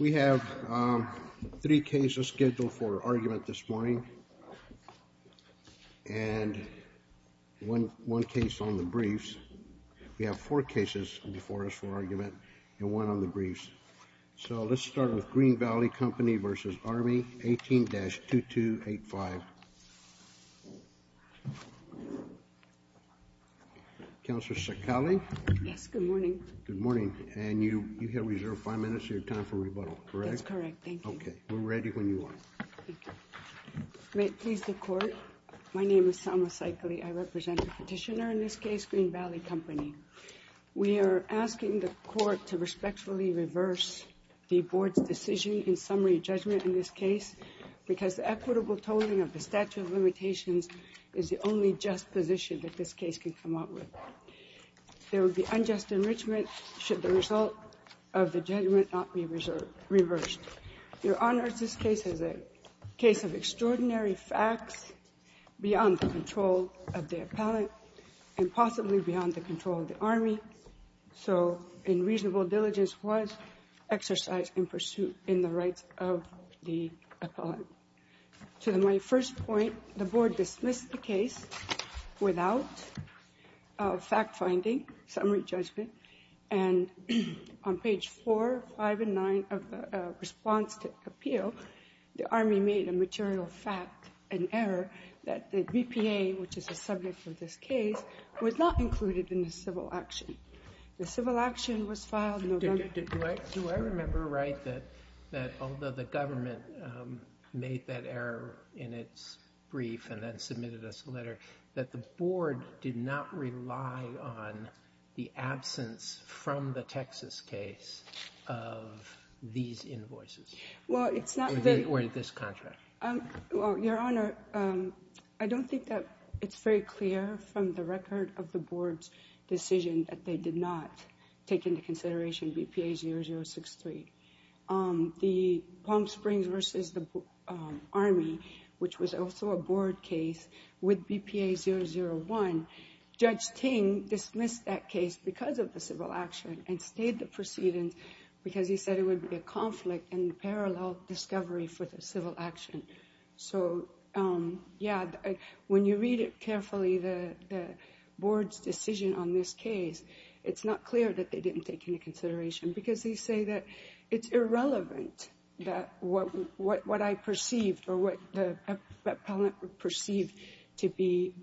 We have three cases scheduled for argument this morning and one one case on the briefs. We have four cases before us for argument and one on the briefs. So we're going to start with the first case, which is Green Valley Company v. Army. We are asking the court to respectfully reverse the board's decision in summary judgment in this case because the equitable tolling of the statute of limitations is the only just position that this case can come up with. There will be unjust enrichment should the result of the judgment not be reversed. Your Honors, this case is a case of extraordinary facts beyond the control of the appellant and possibly beyond the control of the Army, so in reasonable diligence was exercised in pursuit in the rights of the appellant. To my first point, the board dismissed the case without fact finding, summary judgment, and on page 4, 5, and 9 of the response to appeal, the Army made a material fact, an error, that the BPA, which is the subject of this case, was not Although the government made that error in its brief and then submitted us a letter, that the board did not rely on the absence from the Texas case of these invoices or this contract. Your Honor, I don't think that it's very clear from the record of the board's decision that they did not take into consideration BPA 0063. The Palm Springs v. the Army, which was also a board case with BPA 001, Judge Ting dismissed that case because of the civil action and stayed the proceedings because he said it would be a conflict and parallel discovery for the civil action. So, yeah, when you read it carefully, the board's decision on this case, it's not clear that they didn't take into consideration because they say that it's irrelevant that what I perceived or what the appellant perceived to be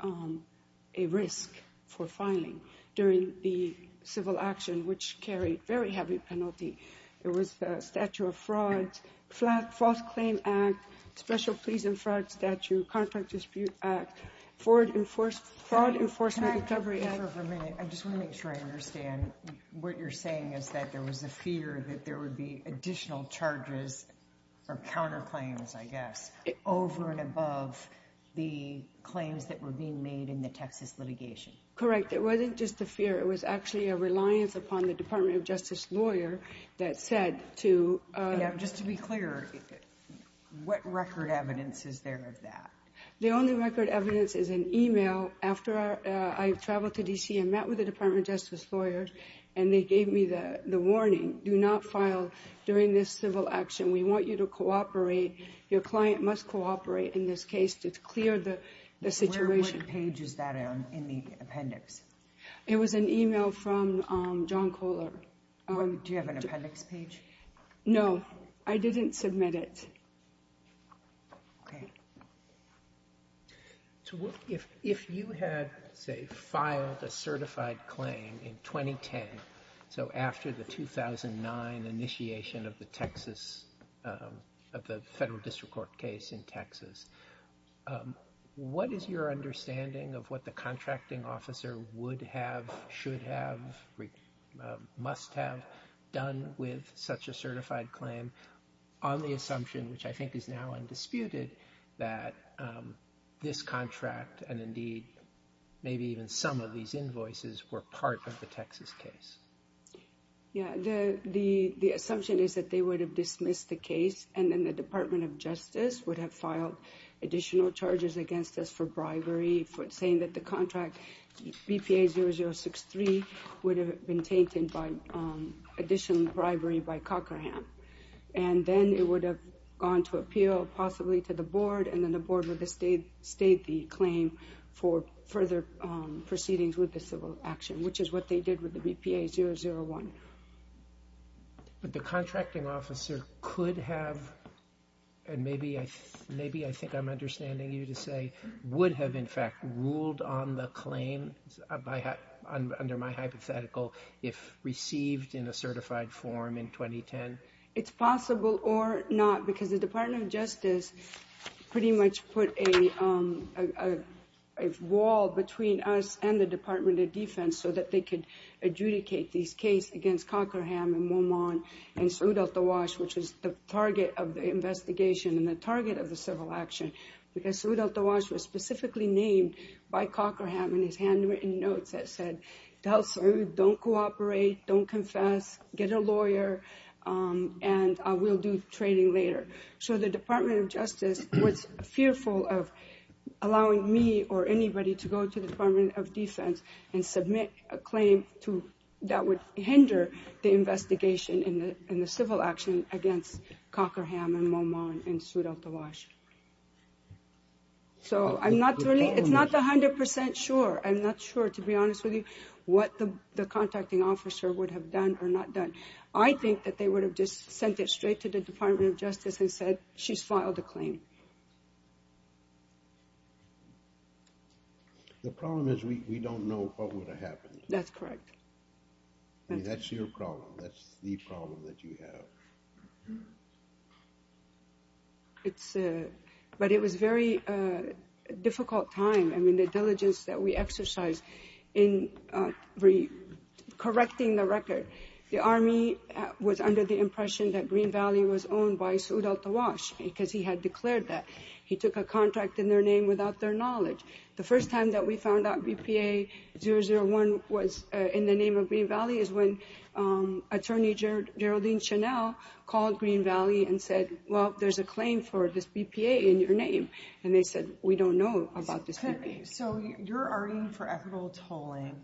a risk for filing during the civil action, which carried very heavy penalty. It was a statute of fraud, False Claim Act, Special Pleas and Fraud Statute, Contract Dispute Act, Fraud Enforcement Recovery Act. I just want to make sure I understand what you're saying is that there was a fear that there would be additional charges or counterclaims, I guess, over and above the claims that were being made in the Texas litigation. Correct. It wasn't just a fear. It was actually a reliance upon the Department of Justice lawyer that said to... Yeah, just to be clear, what record evidence is there of that? The only record evidence is an email after I traveled to D.C. and met with the Department of Justice lawyers and they gave me the warning, do not file during this civil action. We want you to cooperate. Your client must cooperate in this case to clear the situation. Where, what page is that in the appendix? It was an email from John Kohler. Do you have an appendix page? No, I didn't submit it. Okay. Yeah, the assumption is that they would have dismissed the case and then the Department of Justice would have filed additional charges against us for bribery for saying that the contract BPA 0063 would have been tainted by additional bribery by Cochran. And then it would have gone to appeal, possibly to the board, and then the board would have stayed the claim for further proceedings with the civil action, which is what they did with the BPA 001. But the contracting officer could have, and maybe I think I'm understanding you to say, would have in fact ruled on the claim under my hypothetical if received in a certified form in 2010. It's possible or not, because the Department of Justice pretty much put a wall between us and the Department of Defense so that they could adjudicate these case against Cochran and Momon and Saud Al-Tawash, which is the target of the investigation and the target of the civil action. Because Saud Al-Tawash was specifically named by Cochran in his handwritten notes that said, don't cooperate, don't confess, get a lawyer, and we'll do trading later. So the Department of Justice was fearful of allowing me or anybody to go to the Department of Defense and submit a claim that would hinder the investigation and the civil action against Cochran and Momon and Saud Al-Tawash. So I'm not really, it's not 100% sure. I'm not sure, to be honest with you, what the contacting officer would have done or not done. I think that they would have just sent it straight to the Department of Justice and said, she's filed a claim. The problem is we don't know what would have happened. That's correct. That's your problem. That's the problem that you have. But it was a very difficult time. I mean, the diligence that we exercised in correcting the record. The Army was under the impression that Green Valley was owned by Saud Al-Tawash because he had declared that. He took a contract in their name without their knowledge. The first time that we found out BPA 001 was in the name of Green Valley is when Attorney Geraldine Chanel called Green Valley and said, well, there's a claim for this BPA in your name. And they said, we don't know about this BPA. So your arguing for equitable tolling,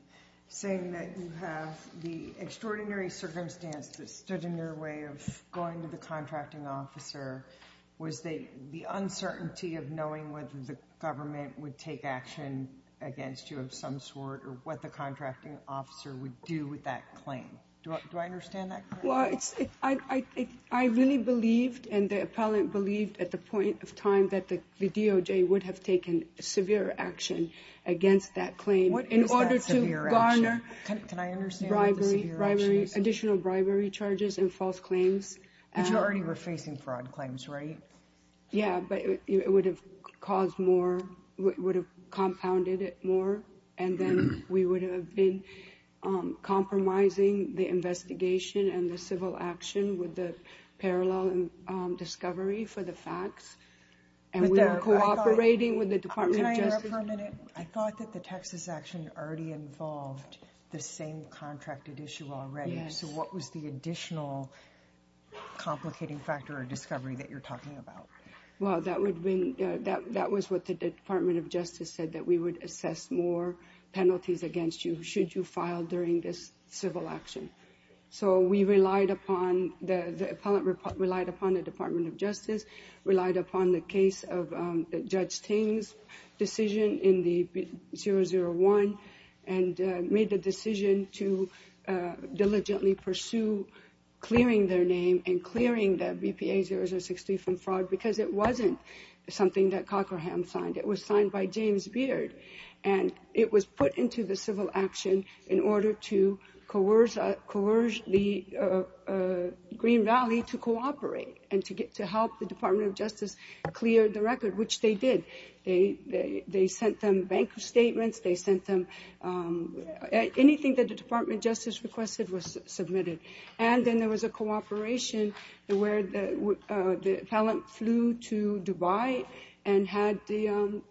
saying that you have the extraordinary circumstance that stood in your way of going to the contracting officer, was the uncertainty of knowing whether the government would take action against you of some sort or what the contracting officer would do with that claim. Do I understand that correctly? Well, I really believed and the appellant believed at the point of time that the DOJ would have taken severe action against that claim. What is that severe action? In order to garner additional bribery charges and false claims. But you already were facing fraud claims, right? Yeah, but it would have caused more, would have compounded it more. And then we would have been compromising the investigation and the civil action with the parallel discovery for the facts. And we were cooperating with the Department of Justice. Can I interrupt for a minute? I thought that the Texas action already involved the same contracted issue already. So what was the additional complicating factor or discovery that you're talking about? Well, that was what the Department of Justice said, that we would assess more penalties against you should you file during this civil action. So we relied upon, the appellant relied upon the Department of Justice, relied upon the case of Judge Ting's decision in the 001 and made the decision to diligently pursue clearing their name and clearing the BPA-0063 from fraud because it wasn't something that Cochran signed. It was signed by James Beard. And it was put into the civil action in order to coerce the Green Valley to cooperate and to help the Department of Justice clear the record, which they did. They sent them bank statements, they sent them anything that the Department of Justice requested was submitted. And then there was a cooperation where the appellant flew to Dubai and had the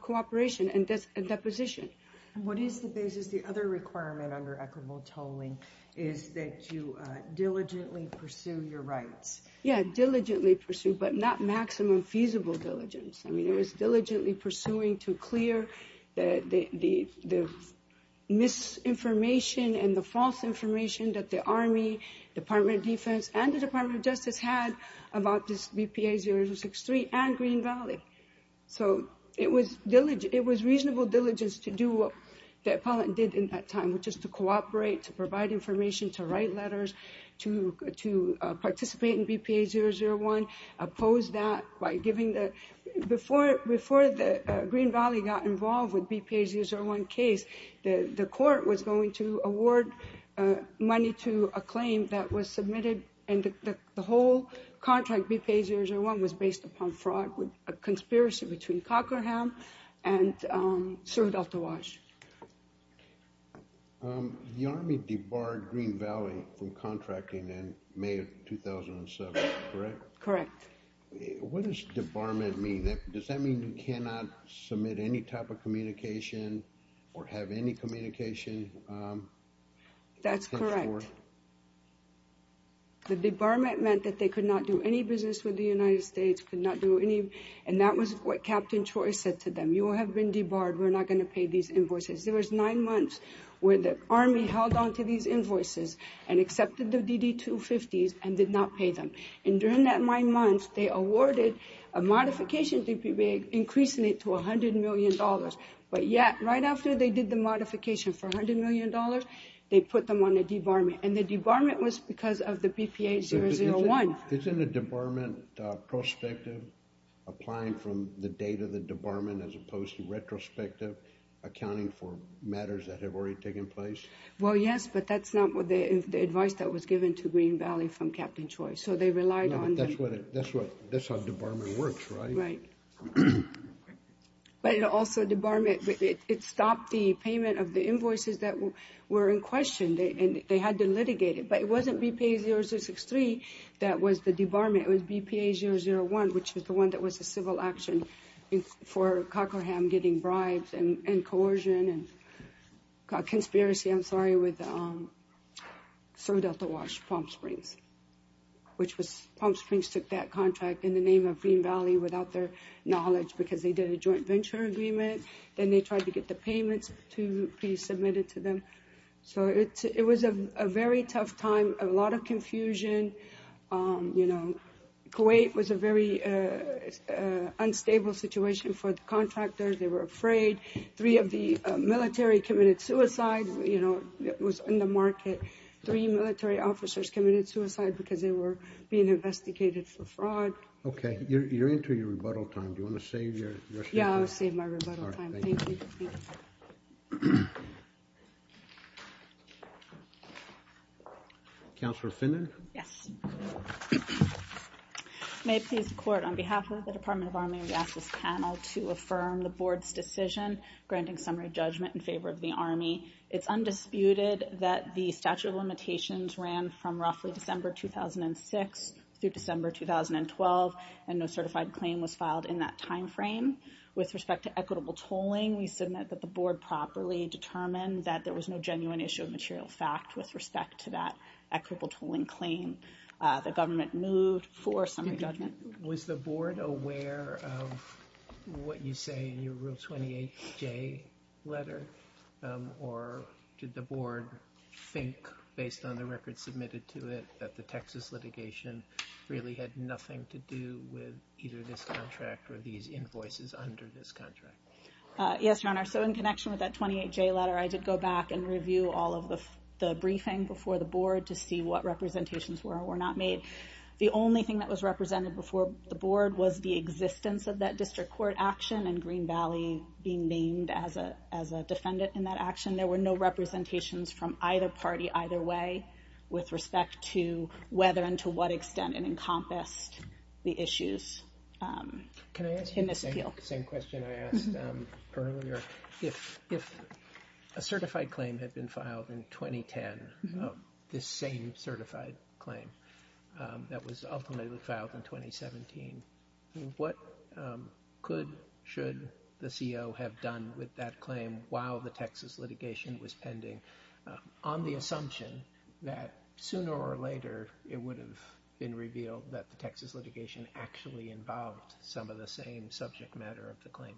cooperation and deposition. What is the basis, the other requirement under equitable tolling is that you diligently pursue your rights? Yeah, diligently pursue, but not maximum feasible diligence. I mean, it was diligently pursuing to clear the misinformation and the false information that the Army, Department of Defense, and the Department of Justice had about this BPA-0063 and Green Valley. So it was reasonable diligence to do what the appellant did in that time, which is to cooperate, to provide information, to write letters, to participate in BPA-001. Oppose that by giving the, before the Green Valley got involved with BPA-001 case, the court was going to award money to a claim that was submitted. And the whole contract, BPA-001, was based upon fraud, a conspiracy between Cochran and Sir Hidalto Wash. The Army debarred Green Valley from contracting in May of 2007, correct? Correct. What does debarment mean? Does that mean you cannot submit any type of communication or have any communication? That's correct. The debarment meant that they could not do any business with the United States, could not do any, and that was what Captain Choi said to them, you have been debarred, we're not going to pay these invoices. There was nine months where the Army held onto these invoices and accepted the DD-250s and did not pay them. And during that nine months, they awarded a modification to BPA, increasing it to $100 million. But yet, right after they did the modification for $100 million, they put them on a debarment. And the debarment was because of the BPA-001. Isn't a debarment prospective, applying from the date of the debarment as opposed to retrospective, accounting for matters that have already taken place? Well, yes, but that's not the advice that was given to Green Valley from Captain Choi. So they relied on them. That's how debarment works, right? Right. But it also stopped the payment of the invoices that were in question. They had to litigate it. But it wasn't BPA-0063 that was the debarment. It was BPA-001, which was the one that was a civil action for Cockraham getting bribes and coercion and conspiracy, I'm sorry, with Sir Delta Wash Palm Springs. Palm Springs took that contract in the name of Green Valley without their knowledge because they did a joint venture agreement. Then they tried to get the payments to be submitted to them. So it was a very tough time, a lot of confusion. Kuwait was a very unstable situation for the contractors. They were afraid. Three of the military committed suicide. It was in the market. Three military officers committed suicide because they were being investigated for fraud. Okay. You're into your rebuttal time. Do you want to save your time? Yeah, I'll save my rebuttal time. Thank you. Counselor Finnan? Yes. May it please the Court, on behalf of the Department of Army, we ask this panel to affirm the Board's decision granting summary judgment in favor of the Army. It's undisputed that the statute of limitations ran from roughly December 2006 through December 2012, and no certified claim was filed in that timeframe. With respect to equitable tolling, we submit that the Board properly determined that there was no genuine issue of material fact with respect to that equitable tolling claim. The government moved for summary judgment. Was the Board aware of what you say in your Rule 28J letter, or did the Board think, based on the records submitted to it, that the Texas litigation really had nothing to do with either this contract or these invoices under this contract? Yes, Your Honor. So in connection with that 28J letter, I did go back and review all of the briefing before the Board to see what representations were or were not made. The only thing that was represented before the Board was the existence of that district court action and Green Valley being named as a defendant in that action. There were no representations from either party either way with respect to whether and to what extent it encompassed the issues in this appeal. The same question I asked earlier, if a certified claim had been filed in 2010, this same certified claim that was ultimately filed in 2017, what could, should the CO have done with that claim while the Texas litigation was pending? On the assumption that sooner or later it would have been revealed that the Texas litigation actually involved some of the same subject matter of the claim.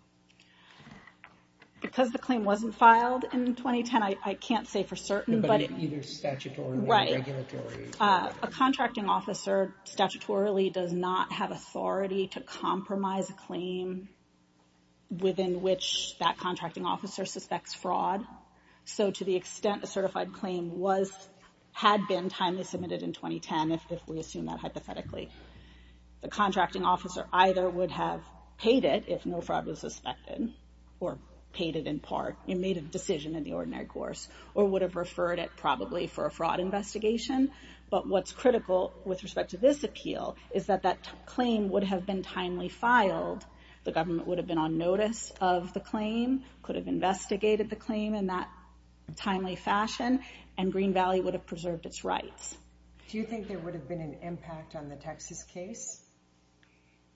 Because the claim wasn't filed in 2010, I can't say for certain. But either statutorily or regulatory. A contracting officer statutorily does not have authority to compromise a claim within which that contracting officer suspects fraud. So to the extent a certified claim was, had been timely submitted in 2010, if we assume that hypothetically. The contracting officer either would have paid it if no fraud was suspected or paid it in part and made a decision in the ordinary course or would have referred it probably for a fraud investigation. But what's critical with respect to this appeal is that that claim would have been timely filed. The government would have been on notice of the claim, could have investigated the claim in that timely fashion and Green Valley would have preserved its rights. Do you think there would have been an impact on the Texas case?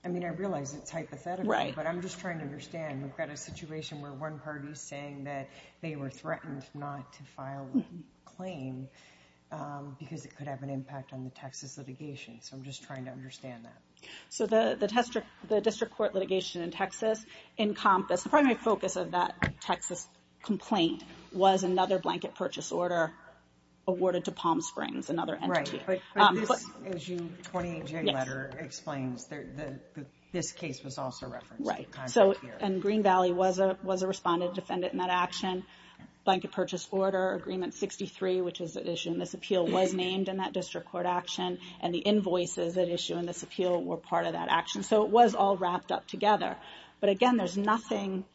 I mean, I realize it's hypothetical. Right. But I'm just trying to understand. We've got a situation where one party is saying that they were threatened not to file the claim because it could have an impact on the Texas litigation. So I'm just trying to understand that. So the district court litigation in Texas encompassed, the primary focus of that Texas complaint was another blanket purchase order awarded to Palm Springs, another entity. Right. As your 28-J letter explains, this case was also referenced. Right. And Green Valley was a respondent defendant in that action. Blanket purchase order agreement 63, which is the issue in this appeal, was named in that district court action. And the invoices that issue in this appeal were part of that action. So it was all wrapped up together. But again, there's nothing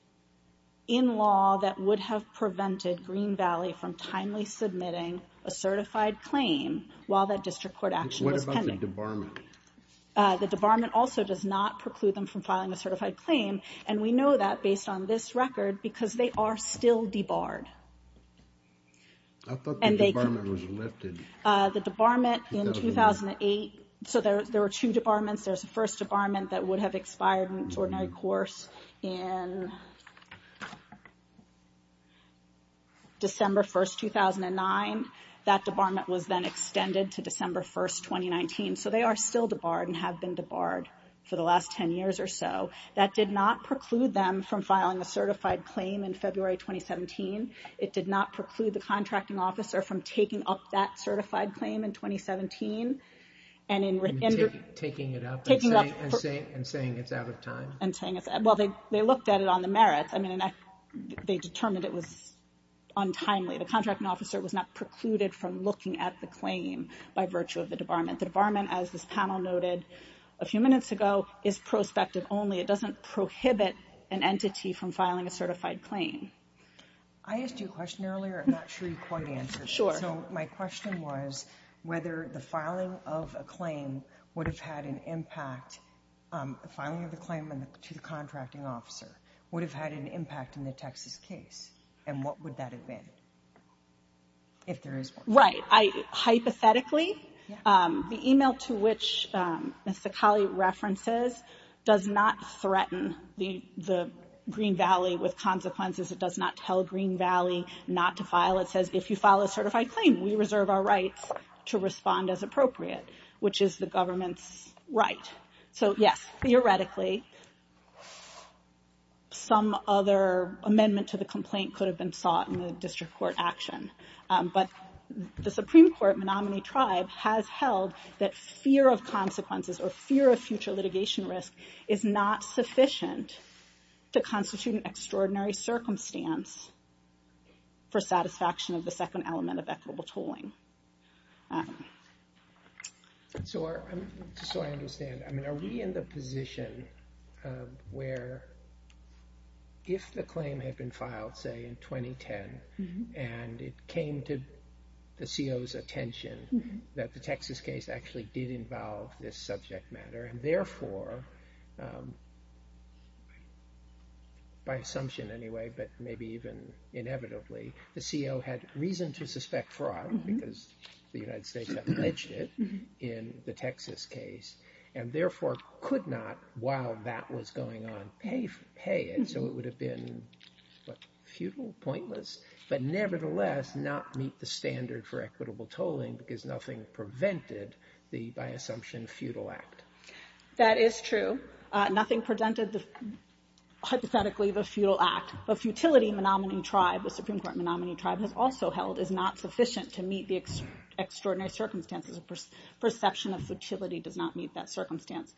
in law that would have prevented Green Valley from timely submitting a certified claim while that district court action was pending. What about the debarment? The debarment also does not preclude them from filing a certified claim. And we know that based on this record because they are still debarred. I thought the debarment was lifted. The debarment in 2008, so there were two debarments. There's the first debarment that would have expired in an extraordinary course in December 1st, 2009. That debarment was then extended to December 1st, 2019. So they are still debarred and have been debarred for the last 10 years or so. That did not preclude them from filing a certified claim in February 2017. It did not preclude the contracting officer from taking up that certified claim in 2017. Taking it up and saying it's out of time? Well, they looked at it on the merits. I mean, they determined it was untimely. The contracting officer was not precluded from looking at the claim by virtue of the debarment. The debarment, as this panel noted a few minutes ago, is prospective only. It doesn't prohibit an entity from filing a certified claim. I asked you a question earlier. I'm not sure you quite answered it. Sure. So my question was whether the filing of a claim would have had an impact, the filing of the claim to the contracting officer, would have had an impact in the Texas case. And what would that have been if there is one? Right. Hypothetically, the email to which Ms. Sacali references does not threaten the Green Valley with consequences. It does not tell Green Valley not to file. It says if you file a certified claim, we reserve our rights to respond as appropriate, which is the government's right. So, yes, theoretically, some other amendment to the complaint could have been sought in the district court action. But the Supreme Court, Menominee Tribe, has held that fear of consequences or fear of future litigation risk is not sufficient to constitute an extraordinary circumstance for satisfaction of the second element of equitable tolling. So I understand. I mean, are we in the position where if the claim had been filed, say, in 2010, and it came to the CO's attention that the Texas case actually did involve this subject matter, and therefore, by assumption anyway, but maybe even inevitably, the CO had reason to suspect fraud because the United States had pledged it in the Texas case, and therefore could not, while that was going on, pay it. So it would have been futile, pointless, but nevertheless not meet the standard for equitable tolling because nothing prevented the, by assumption, futile act. That is true. Nothing prevented, hypothetically, the futile act. But futility, Menominee Tribe, the Supreme Court Menominee Tribe has also held, is not sufficient to meet the extraordinary circumstances. Perception of futility does not meet that circumstance.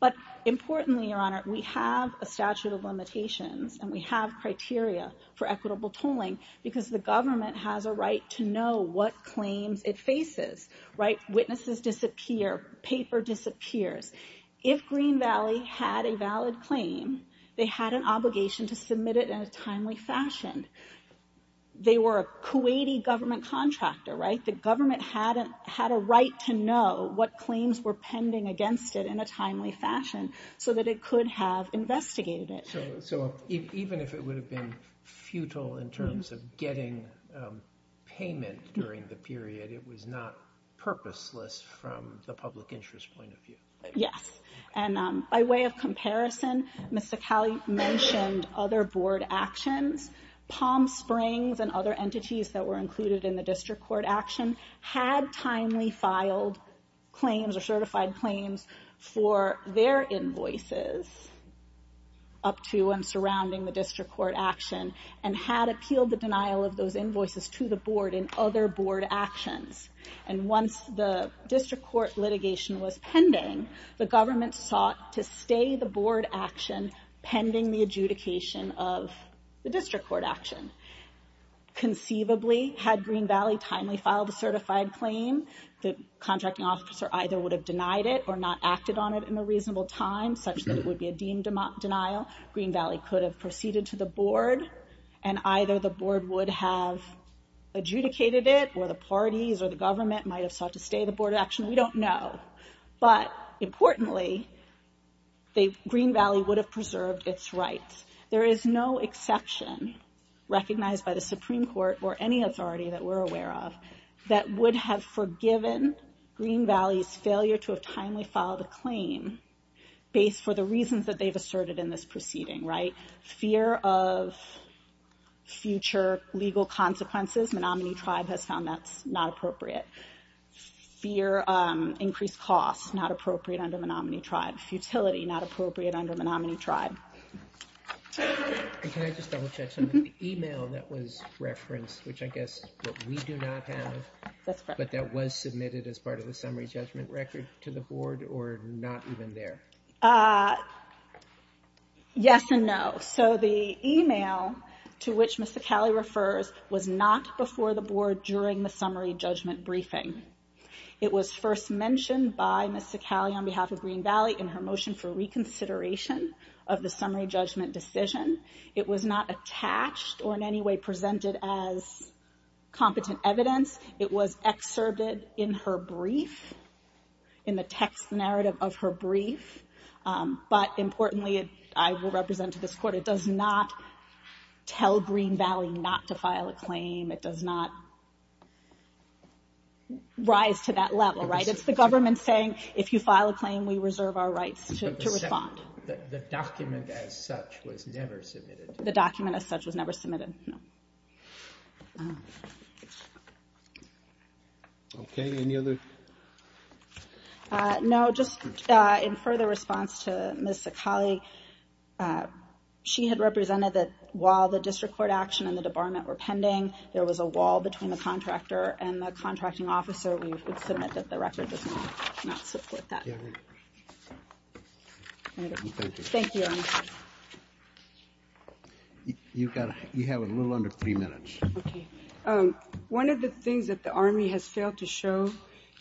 But importantly, Your Honor, we have a statute of limitations, and we have criteria for equitable tolling because the government has a right to know what claims it faces, right? Witnesses disappear. Paper disappears. If Green Valley had a valid claim, they had an obligation to submit it in a timely fashion. They were a Kuwaiti government contractor, right? The government had a right to know what claims were pending against it in a timely fashion so that it could have investigated it. So even if it would have been futile in terms of getting payment during the period, it was not purposeless from the public interest point of view. Yes. And by way of comparison, Ms. Sacali mentioned other board actions. Palm Springs and other entities that were included in the district court action had timely filed claims or certified claims for their invoices up to and surrounding the district court action and had appealed the denial of those invoices to the board in other board actions. And once the district court litigation was pending, the government sought to stay the board action pending the adjudication of the district court action. Conceivably, had Green Valley timely filed a certified claim, the contracting officer either would have denied it or not acted on it in a reasonable time such that it would be a deemed denial. Green Valley could have proceeded to the board and either the board would have adjudicated it or the parties or the government might have sought to stay the board action. We don't know. But importantly, Green Valley would have preserved its rights. There is no exception recognized by the Supreme Court or any authority that we're aware of that would have forgiven Green Valley's failure to have timely filed a claim based for the reasons that they've asserted in this proceeding, right? Fear of future legal consequences, Menominee Tribe has found that's not appropriate. Fear of increased costs, not appropriate under Menominee Tribe. Futility, not appropriate under Menominee Tribe. Can I just double check something? The email that was referenced, which I guess we do not have, but that was submitted as part of the summary judgment record to the board or not even there? Yes and no. So the email to which Ms. Sacali refers was not before the board during the summary judgment briefing. It was first mentioned by Ms. Sacali on behalf of Green Valley in her motion for reconsideration of the summary judgment decision. It was not attached or in any way presented as competent evidence. It was excerpted in her brief, in the text narrative of her brief. But importantly, I will represent to this court, it does not tell Green Valley not to file a claim. It does not rise to that level, right? It's the government saying if you file a claim, we reserve our rights to respond. The document as such was never submitted. The document as such was never submitted, no. Okay, any other? No, just in further response to Ms. Sacali, she had represented that while the district court action and the debarment were pending, there was a wall between the contractor and the contracting officer. We would submit that the record does not support that. Thank you. You have a little under three minutes. One of the things that the Army has failed to show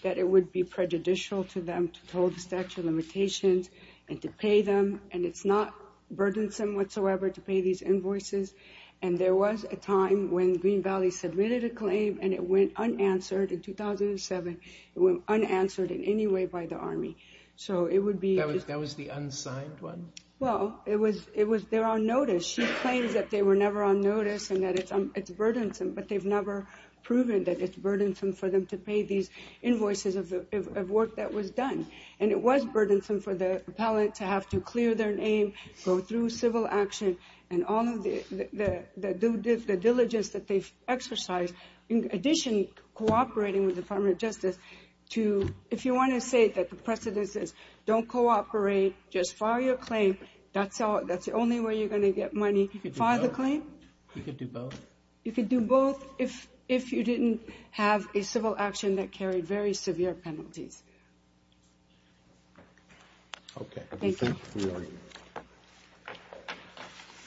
that it would be prejudicial to them to hold the statute of limitations and to pay them, and it's not burdensome whatsoever to pay these invoices, and there was a time when Green Valley submitted a claim and it went unanswered in 2007. It went unanswered in any way by the Army. That was the unsigned one? Well, it was there on notice. She claims that they were never on notice and that it's burdensome, but they've never proven that it's burdensome for them to pay these invoices of work that was done, and it was burdensome for the appellant to have to clear their name, go through civil action, and all of the diligence that they've exercised. In addition, cooperating with the Department of Justice to, if you want to say that the precedence is don't cooperate, just file your claim, that's the only way you're going to get money, file the claim? You could do both. You could do both if you didn't have a civil action that carried very severe penalties. Okay. Thank you.